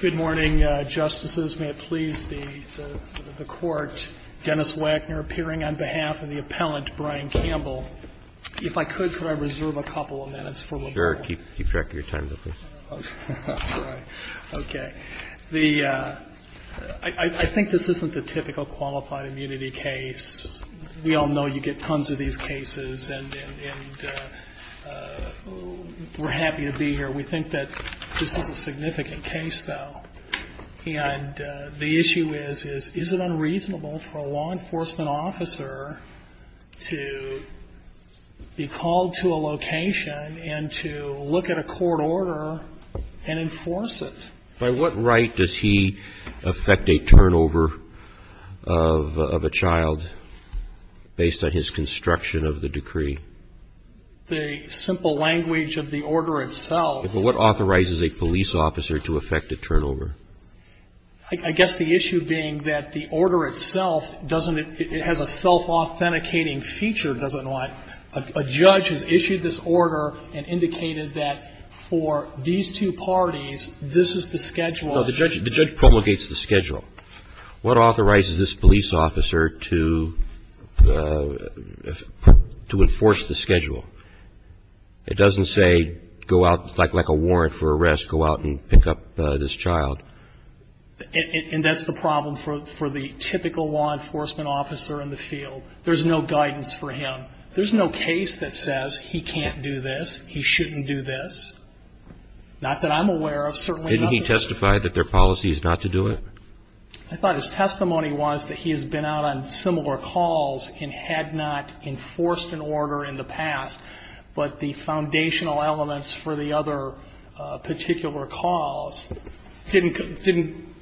Good morning, Justices. May it please the Court, Dennis Wagner appearing on behalf of the appellant, Brian Campbell. If I could, could I reserve a couple of minutes for liberal? Sure. Keep track of your time, though, please. Okay. I think this isn't the typical qualified immunity case. We all know you get tons of these cases, and we're happy to be here. We think that this is a significant case, though. And the issue is, is it unreasonable for a law enforcement officer to be called to a location and to look at a court order and enforce it? By what right does he affect a turnover of a child based on his construction of the decree? The simple language of the order itself. But what authorizes a police officer to affect a turnover? I guess the issue being that the order itself doesn't – it has a self-authenticating feature, doesn't it? A judge has issued this order and indicated that for these two parties, this is the schedule. The judge promulgates the schedule. What authorizes this police officer to enforce the schedule? It doesn't say go out, like a warrant for arrest, go out and pick up this child. And that's the problem for the typical law enforcement officer in the field. There's no guidance for him. There's no case that says he can't do this, he shouldn't do this. Not that I'm aware of. Didn't he testify that their policy is not to do it? I thought his testimony was that he has been out on similar calls and had not enforced an order in the past, but the foundational elements for the other particular calls didn't –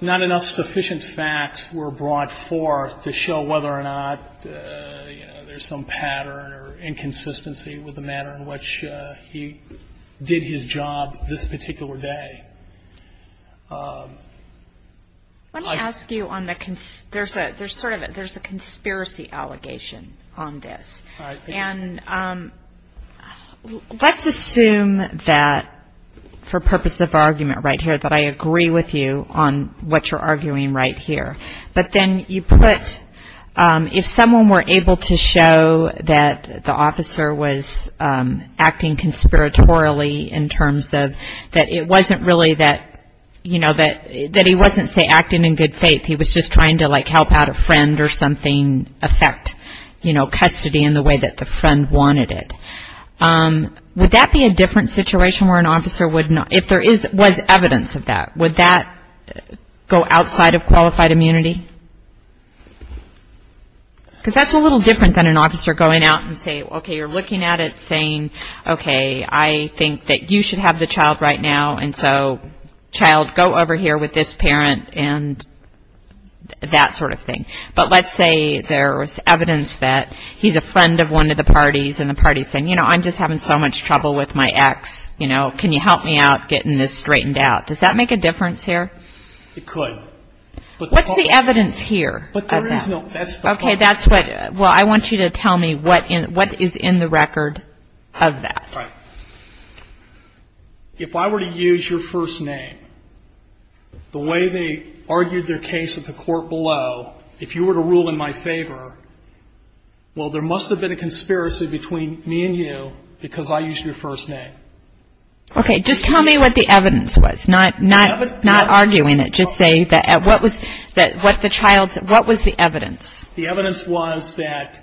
not enough sufficient facts were brought forth to show whether or not, you know, there's some pattern or inconsistency with the manner in which he did his job this particular day. Let me ask you on the – there's sort of a conspiracy allegation on this. And let's assume that, for purpose of argument right here, that I agree with you on what you're arguing right here. But then you put – if someone were able to show that the officer was acting conspiratorially in terms of – that it wasn't really that, you know, that he wasn't, say, acting in good faith. He was just trying to, like, help out a friend or something affect, you know, custody in the way that the friend wanted it. Would that be a different situation where an officer would not – if there was evidence of that, would that go outside of qualified immunity? Because that's a little different than an officer going out and saying, okay, you're looking at it saying, okay, I think that you should have the child right now, and so, child, go over here with this parent and that sort of thing. But let's say there was evidence that he's a friend of one of the parties and the party's saying, you know, I'm just having so much trouble with my ex, you know, can you help me out getting this straightened out? Does that make a difference here? It could. What's the evidence here? Okay, that's what – well, I want you to tell me what is in the record of that. All right. If I were to use your first name, the way they argued their case at the court below, if you were to rule in my favor, well, there must have been a conspiracy between me and you because I used your first name. Okay. Just tell me what the evidence was, not arguing it. Just say what was the evidence. The evidence was that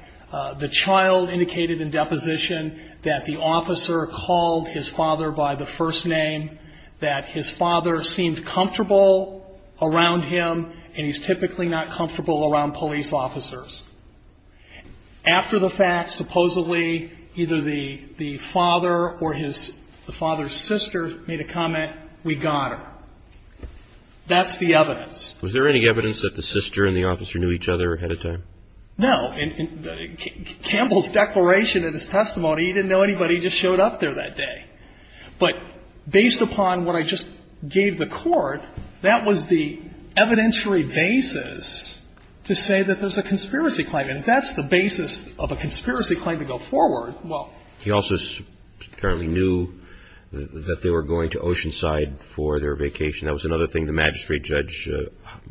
the child indicated in deposition that the officer called his father by the first name, that his father seemed comfortable around him, and he's typically not comfortable around police officers. After the fact, supposedly, either the father or his father's sister made a comment, we got her. That's the evidence. Was there any evidence that the sister and the officer knew each other ahead of time? No. In Campbell's declaration in his testimony, he didn't know anybody. He just showed up there that day. But based upon what I just gave the court, that was the evidentiary basis to say that there's a conspiracy claim. And if that's the basis of a conspiracy claim to go forward, well. He also apparently knew that they were going to Oceanside for their vacation. That was another thing the magistrate judge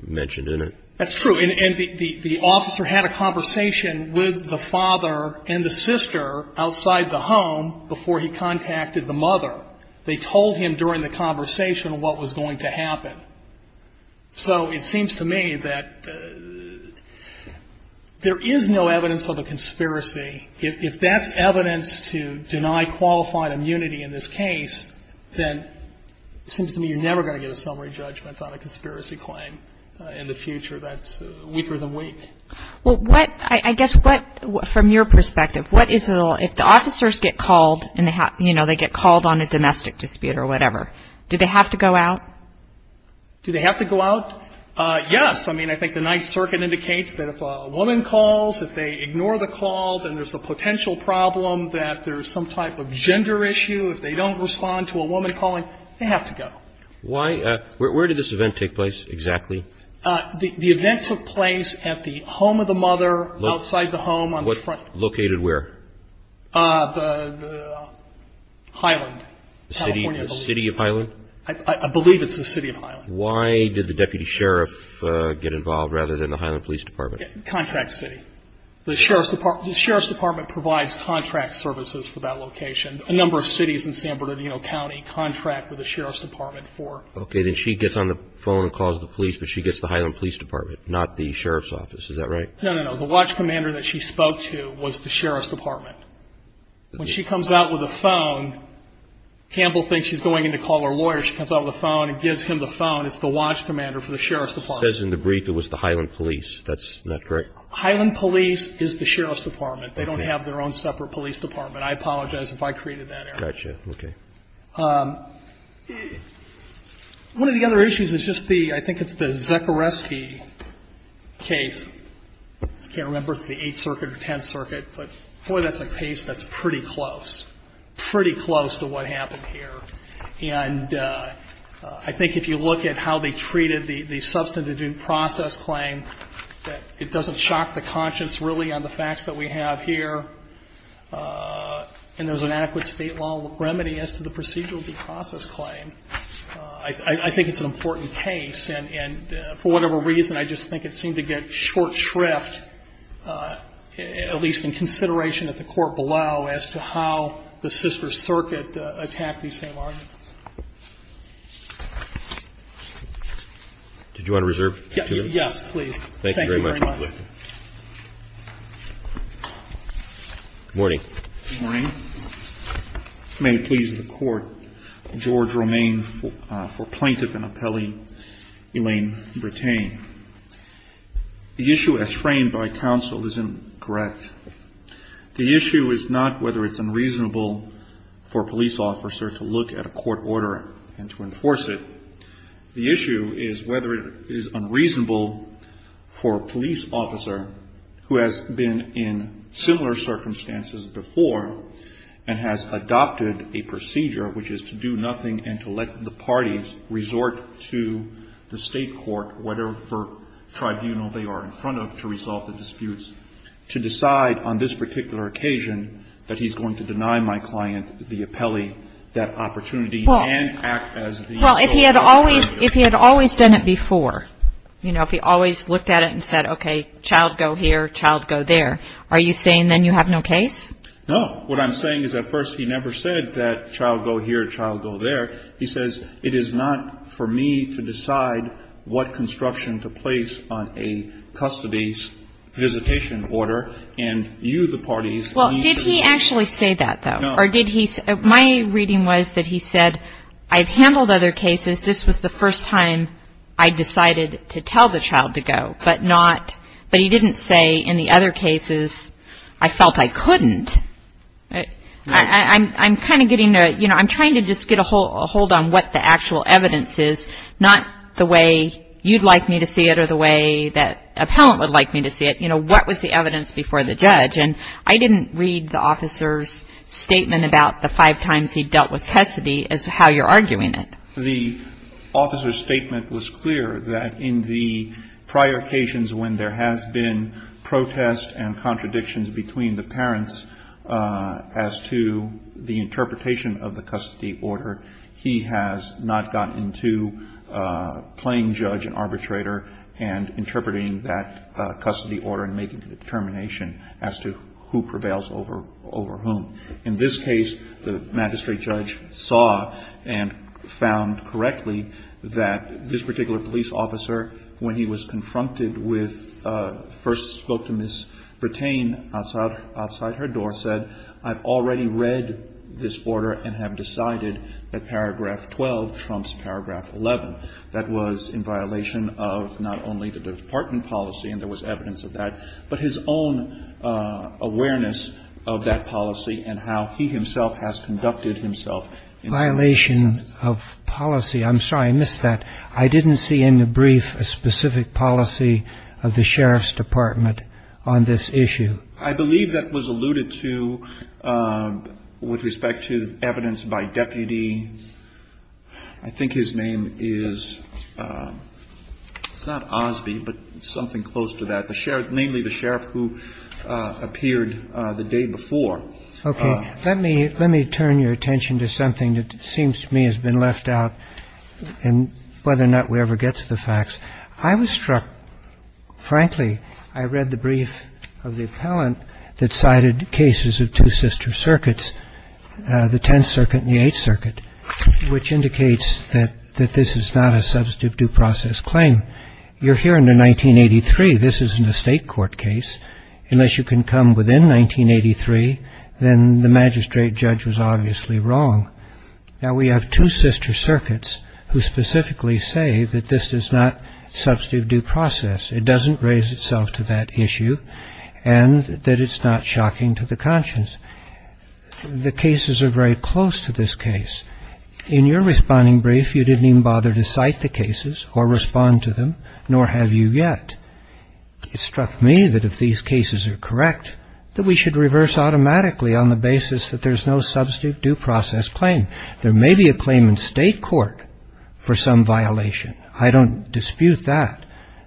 mentioned in it. That's true. And the officer had a conversation with the father and the sister outside the home before he contacted the mother. They told him during the conversation what was going to happen. So it seems to me that there is no evidence of a conspiracy. If that's evidence to deny qualified immunity in this case, then it seems to me you're never going to get a summary judgment on a conspiracy claim. In the future, that's weaker than weak. Well, what, I guess, what, from your perspective, what is it, if the officers get called and they get called on a domestic dispute or whatever, do they have to go out? Do they have to go out? Yes. I mean, I think the Ninth Circuit indicates that if a woman calls, if they ignore the call, then there's a potential problem that there's some type of gender issue. If they don't respond to a woman calling, they have to go. Why, where did this event take place exactly? The event took place at the home of the mother outside the home on the front. Located where? The Highland, California. The city of Highland? I believe it's the city of Highland. Why did the deputy sheriff get involved rather than the Highland Police Department? Contract city. The sheriff's department provides contract services for that location. A number of cities in San Bernardino County contract with the sheriff's department for. Okay. Then she gets on the phone and calls the police, but she gets the Highland Police Department, not the sheriff's office. Is that right? No, no, no. The watch commander that she spoke to was the sheriff's department. When she comes out with a phone, Campbell thinks she's going in to call her lawyer. She comes out with a phone and gives him the phone. It's the watch commander for the sheriff's department. Says in the brief it was the Highland Police. That's not correct? Highland Police is the sheriff's department. They don't have their own separate police department. I apologize if I created that error. Gotcha. Okay. One of the other issues is just the, I think it's the Zekereski case. I can't remember if it's the 8th Circuit or 10th Circuit, but boy, that's a case that's pretty close. Pretty close to what happened here. And I think if you look at how they treated the substantive due process claim, it doesn't shock the conscience really on the facts that we have here. And there's an adequate state law remedy as to the procedural due process claim. I think it's an important case. And for whatever reason, I just think it seemed to get short shrift, at least in consideration of the court below, as to how the sister circuit attacked these same arguments. Did you want to reserve? Yes, please. Thank you very much. Good morning. Good morning. May it please the court. George Romaine for plaintiff and appellee Elaine Bretain. The issue as framed by counsel is incorrect. The issue is not whether it's unreasonable for a police officer to look at a court order and to enforce it. The issue is whether it is unreasonable for a police officer who has been in similar circumstances before and has adopted a procedure, which is to do nothing and to let the parties resort to the State court, whatever tribunal they are in front of, to resolve the disputes, to decide on this particular occasion that he's going to deny my client, the appellee, that opportunity and act as the official. Well, if he had always done it before, you know, if he always looked at it and said, okay, child go here, child go there, are you saying then you have no case? No. What I'm saying is at first he never said that child go here, child go there. He says it is not for me to decide what construction to place on a custody's visitation order and you, the parties, need to decide. Did he actually say that, though? No. Or did he, my reading was that he said, I've handled other cases. This was the first time I decided to tell the child to go, but not, but he didn't say in the other cases I felt I couldn't. I'm kind of getting to, you know, I'm trying to just get a hold on what the actual evidence is, not the way you'd like me to see it or the way that appellant would like me to see it. You know, what was the evidence before the judge? And I didn't read the officer's statement about the five times he dealt with custody as to how you're arguing it. The officer's statement was clear that in the prior occasions when there has been protest and contradictions between the parents as to the interpretation of the custody order, he has not gotten into playing judge and arbitrator and interpreting that custody order and making the determination as to who prevails over whom. In this case, the magistrate judge saw and found correctly that this particular police officer, when he was confronted with, first spoke to Ms. Bertain outside her door, said, I've already read this order and have decided that paragraph 12 trumps paragraph 11. That was in violation of not only the department policy, and there was evidence of that, but his own awareness of that policy and how he himself has conducted himself. Violation of policy. I'm sorry, I missed that. I didn't see in the brief a specific policy of the sheriff's department on this issue. I believe that was alluded to with respect to evidence by deputy. I think his name is not Osby, but something close to that. The sheriff, mainly the sheriff who appeared the day before. OK. Let me let me turn your attention to something that seems to me has been left out and whether or not we ever get to the facts. I was struck. Frankly, I read the brief of the appellant that cited cases of two sister circuits, the 10th Circuit and the 8th Circuit, which indicates that that this is not a substantive due process claim. You're here in the 1983. This is an estate court case. Unless you can come within 1983, then the magistrate judge was obviously wrong. Now, we have two sister circuits who specifically say that this is not substantive due process. It doesn't raise itself to that issue and that it's not shocking to the conscience. The cases are very close to this case. In your responding brief, you didn't even bother to cite the cases or respond to them, nor have you yet. It struck me that if these cases are correct, that we should reverse automatically on the basis that there's no substantive due process claim. There may be a claim in state court for some violation. I don't dispute that.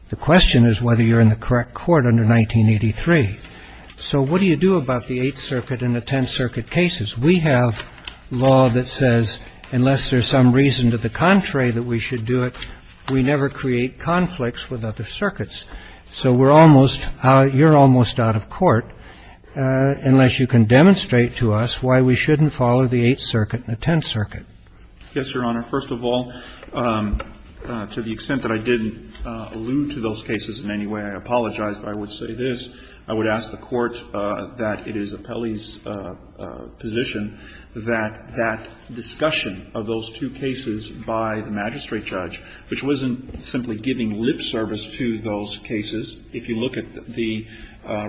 The question is whether you're in the correct court under 1983. So what do you do about the 8th Circuit and the 10th Circuit cases? We have law that says unless there's some reason to the contrary that we should do it, we never create conflicts with other circuits. So we're almost out. You're almost out of court unless you can demonstrate to us why we shouldn't follow the 8th Circuit and the 10th Circuit. Yes, Your Honor. First of all, to the extent that I didn't allude to those cases in any way, I apologize. If I would say this, I would ask the Court that it is Appelli's position that that discussion of those two cases by the magistrate judge, which wasn't simply giving lip service to those cases, if you look at the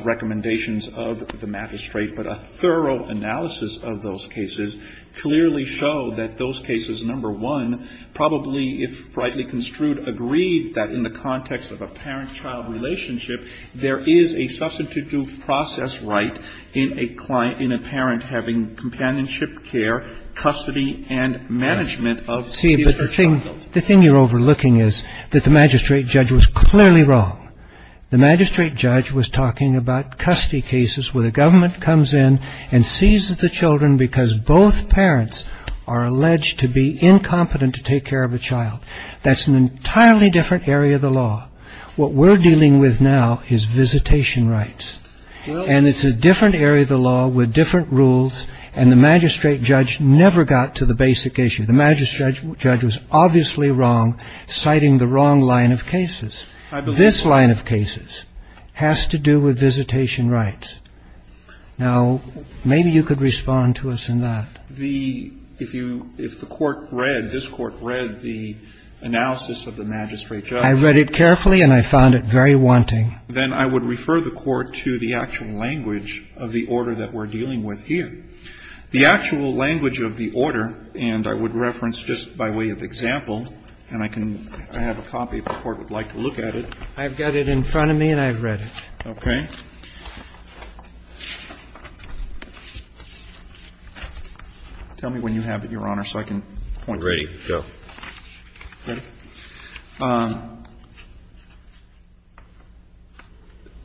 recommendations of the magistrate, but a thorough analysis of those cases clearly show that those cases, number one, probably, if rightly construed, agree that in the context of a parent-child relationship, there is a substantive due process right in a parent having companionship care, custody, and management of their child. See, but the thing you're overlooking is that the magistrate judge was clearly wrong. The magistrate judge was talking about custody cases where the government comes in and seizes the children because both parents are alleged to be incompetent to take care of a child. That's an entirely different area of the law. What we're dealing with now is visitation rights. And it's a different area of the law with different rules, and the magistrate judge never got to the basic issue. The magistrate judge was obviously wrong, citing the wrong line of cases. This line of cases has to do with visitation rights. Now, maybe you could respond to us in that. The ‑‑ if you ‑‑ if the Court read, this Court read the analysis of the magistrate judge. I read it carefully and I found it very wanting. Then I would refer the Court to the actual language of the order that we're dealing with here. The actual language of the order, and I would reference just by way of example, and I can ‑‑ I have a copy if the Court would like to look at it. I've got it in front of me and I've read it. Okay. Tell me when you have it, Your Honor, so I can point. Ready. Go. Ready?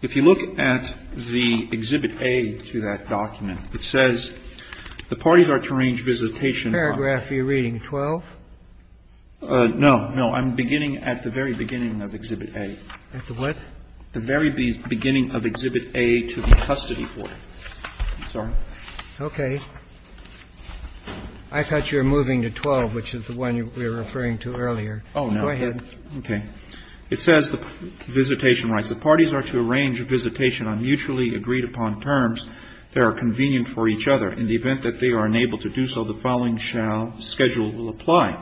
If you look at the Exhibit A to that document, it says the parties are to arrange visitation ‑‑ Paragraph you're reading, 12? No, no. I'm beginning at the very beginning of Exhibit A. At the what? The very beginning of Exhibit A to be custody for. I'm sorry. Okay. I thought you were moving to 12, which is the one we were referring to earlier. Oh, no. Go ahead. Okay. It says the visitation rights. The parties are to arrange a visitation on mutually agreed upon terms that are convenient for each other. In the event that they are unable to do so, the following shall ‑‑ schedule will apply.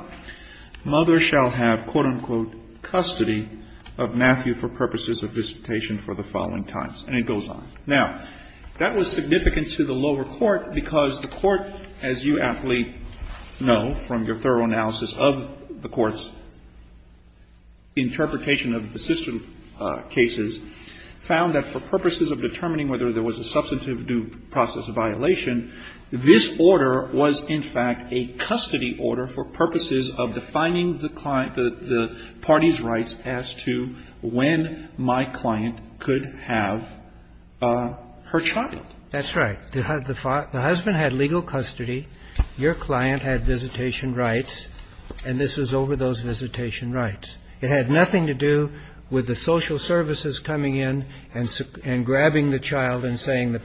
Mother shall have, quote, unquote, custody of Matthew for purposes of visitation for the following times. And it goes on. Now, that was significant to the lower court because the court, as you aptly know from your thorough analysis of the court's interpretation of the system cases, found that for purposes of determining whether there was a substantive due process violation, this order was, in fact, a custody order for purposes of defining the client ‑‑ the party's rights as to when my client could have her child. That's right. The husband had legal custody. Your client had visitation rights. And this was over those visitation rights. It had nothing to do with the social services coming in and grabbing the child and taking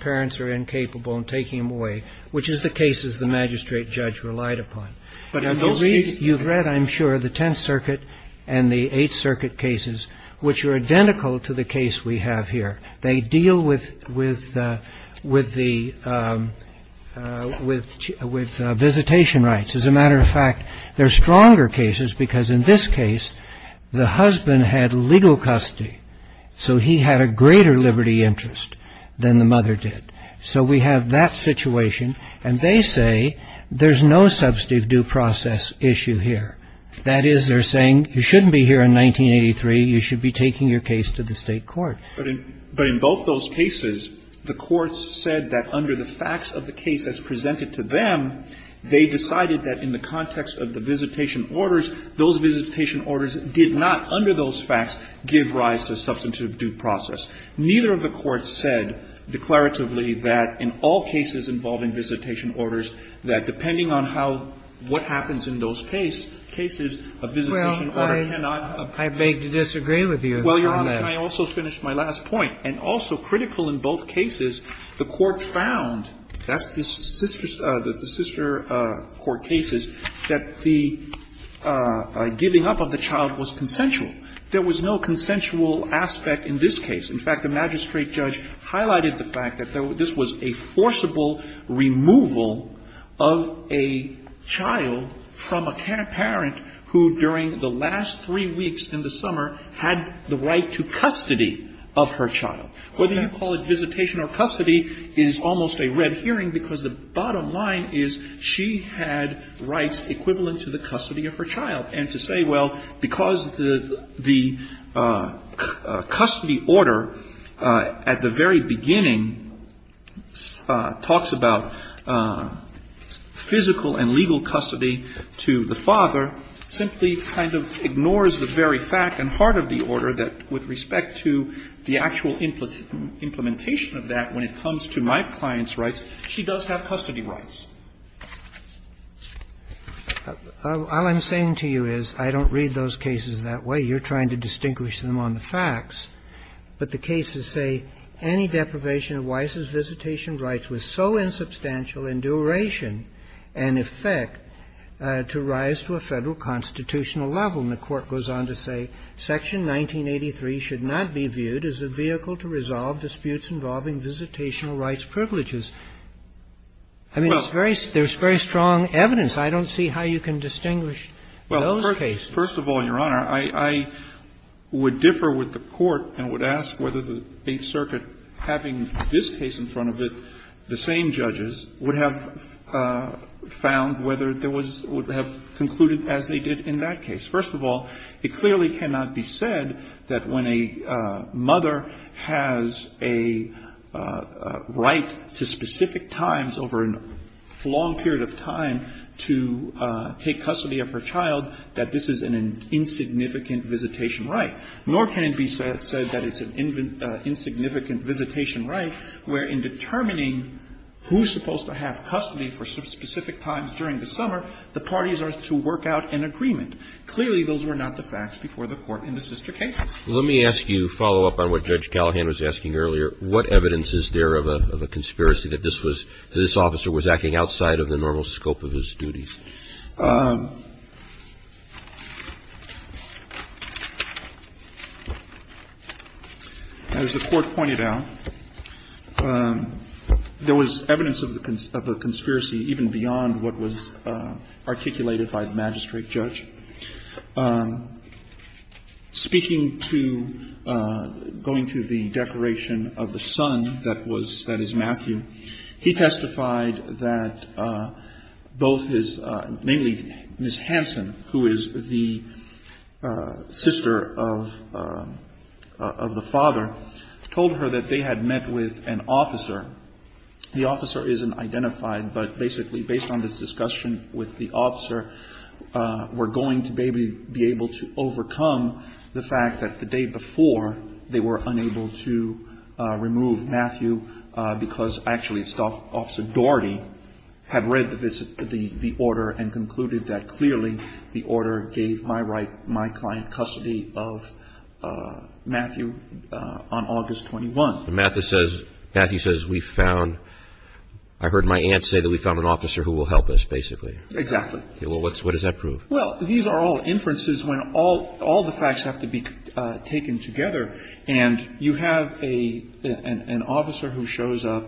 him away, which is the cases the magistrate judge relied upon. You've read, I'm sure, the Tenth Circuit and the Eighth Circuit cases, which are identical to the case we have here. They deal with the ‑‑ with visitation rights. As a matter of fact, they're stronger cases because in this case, the husband had legal custody, so he had a greater liberty interest than the mother did. So we have that situation. And they say there's no substantive due process issue here. That is, they're saying you shouldn't be here in 1983. You should be taking your case to the state court. But in both those cases, the courts said that under the facts of the case as presented to them, they decided that in the context of the visitation orders, those visitation orders did not, under those facts, give rise to substantive due process. Neither of the courts said declaratively that in all cases involving visitation orders, that depending on how ‑‑ what happens in those cases, a visitation order cannot ‑‑ Kagan. Well, I beg to disagree with you on that. Well, Your Honor, can I also finish my last point? And also critical in both cases, the courts found, that's the sister ‑‑ the sister court cases, that the giving up of the child was consensual. There was no consensual aspect in this case. In fact, the magistrate judge highlighted the fact that this was a forcible removal of a child from a parent who, during the last three weeks in the summer, had the right to custody of her child. Whether you call it visitation or custody is almost a red herring, because the bottom equivalent to the custody of her child, and to say, well, because the custody order at the very beginning talks about physical and legal custody to the father simply kind of ignores the very fact and heart of the order that with respect to the actual implementation of that, when it comes to my client's rights, she does have custody rights. All I'm saying to you is, I don't read those cases that way. You're trying to distinguish them on the facts. But the cases say, Any deprivation of Weiss's visitation rights was so insubstantial in duration and effect to rise to a Federal constitutional level. And the Court goes on to say, Section 1983 should not be viewed as a vehicle to resolve disputes involving visitational rights privileges. I mean, it's very — there's very strong evidence. I don't see how you can distinguish those cases. First of all, Your Honor, I would differ with the Court and would ask whether the Eighth Circuit, having this case in front of it, the same judges, would have found whether there was — would have concluded as they did in that case. First of all, it clearly cannot be said that when a mother has a right to specific times over a long period of time to take custody of her child that this is an insignificant visitation right, nor can it be said that it's an insignificant visitation right where in determining who's supposed to have custody for specific times during the It's an insignificant visitation right. And clearly, those were not the facts before the Court in the sister cases. Let me ask you a follow-up on what Judge Callahan was asking earlier. What evidence is there of a conspiracy that this was — that this officer was acting outside of the normal scope of his duties? As the Court pointed out, there was evidence of a conspiracy even beyond what was articulated by the magistrate judge. Speaking to — going to the declaration of the son that was — that is, Matthew, mainly Ms. Hansen, who is the sister of the father, told her that they had met with an officer. The officer isn't identified, but basically, based on this discussion with the officer, we're going to maybe be able to overcome the fact that the day before, they were unable to remove Matthew because actually it's Officer Daugherty had read the order and concluded that clearly the order gave my right, my client custody of Matthew on August 21. Matthew says we found — I heard my aunt say that we found an officer who will help us, basically. Exactly. Well, what does that prove? Well, these are all inferences when all the facts have to be taken together. And you have an officer who shows up,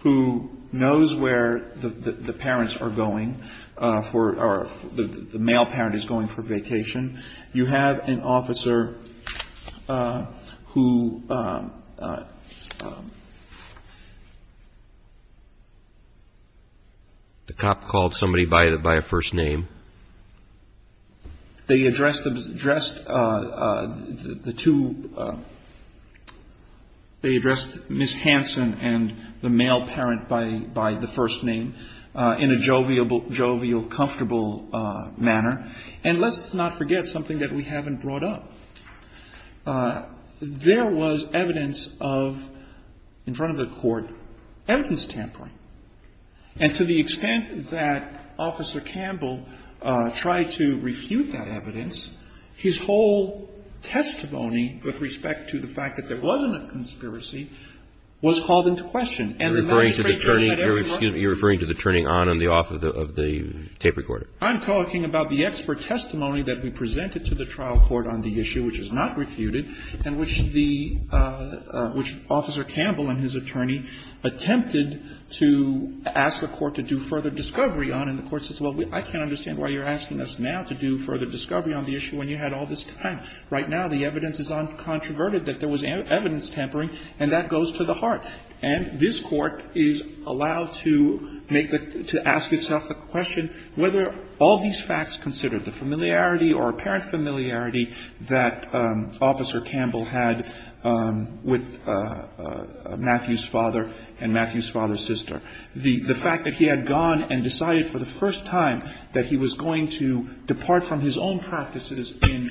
who knows where the parents are going for — or the male parent is going for vacation. You have an officer who — The cop called somebody by a first name. They addressed the two — they addressed Ms. Hansen and the male parent by the first name in a jovial, comfortable manner. And let's not forget something that we haven't brought up. There was evidence of, in front of the court, evidence tampering. And to the extent that Officer Campbell tried to refute that evidence, his whole testimony with respect to the fact that there wasn't a conspiracy was called into question. You're referring to the turning on and the off of the tape recorder. I'm talking about the expert testimony that we presented to the trial court on the issue, which is not refuted, and which the — which Officer Campbell and his attorney attempted to ask the court to do further discovery on. And the court says, well, I can't understand why you're asking us now to do further discovery on the issue when you had all this time. Right now the evidence is uncontroverted that there was evidence tampering, and that goes to the heart. And this Court is allowed to make the — to ask itself the question whether all these facts considered, the familiarity or apparent familiarity that Officer Campbell had with Matthew's father and Matthew's father's sister, the fact that he had gone and decided for the first time that he was going to depart from his own practices in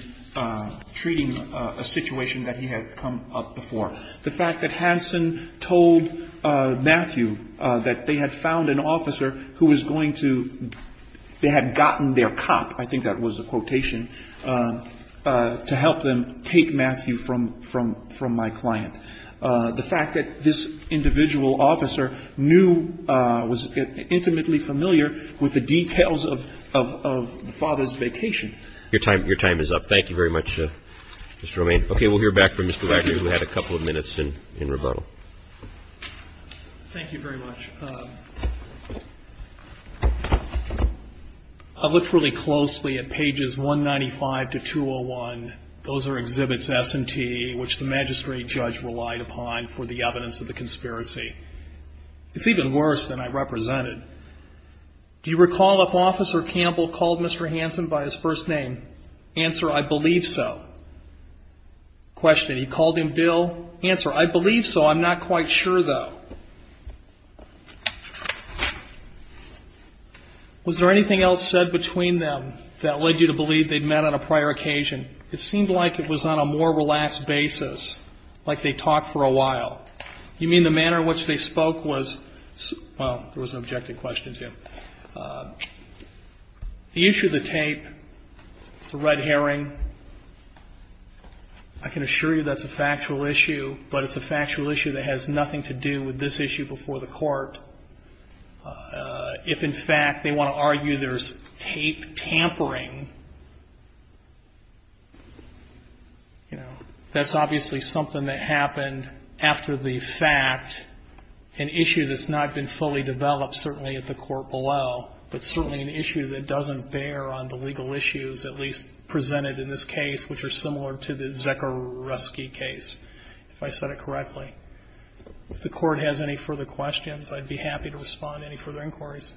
treating a situation that he had come up before. The fact that Hansen told Matthew that they had found an officer who was going to — they had gotten their cop, I think that was the quotation, to help them take Matthew from my client. The fact that this individual officer knew — was intimately familiar with the details of the father's vacation. Your time is up. Thank you very much, Mr. Romain. Okay, we'll hear back from Mr. Wagner, who had a couple of minutes in rebuttal. Thank you very much. I looked really closely at pages 195 to 201. Those are exhibits S and T, which the magistrate judge relied upon for the evidence of the conspiracy. It's even worse than I represented. Do you recall if Officer Campbell called Mr. Hansen by his first name? Answer, I believe so. Question, he called him Bill? Answer, I believe so. I'm not quite sure, though. Was there anything else said between them that led you to believe they'd met on a prior occasion? It seemed like it was on a more relaxed basis, like they'd talked for a while. You mean the manner in which they spoke was — well, there was an objective question, too. The issue of the tape, it's a red herring. I can assure you that's a factual issue, but it's a factual issue that has nothing to do with this issue before the court. If, in fact, they want to argue there's tape tampering, you know, that's obviously something that happened after the fact, an issue that's not been fully developed, certainly at the court below, but certainly an issue that doesn't bear on the legal issues at least presented in this case, which are similar to the Zekreski case, if I said it correctly. If the court has any further questions, I'd be happy to respond to any further inquiries.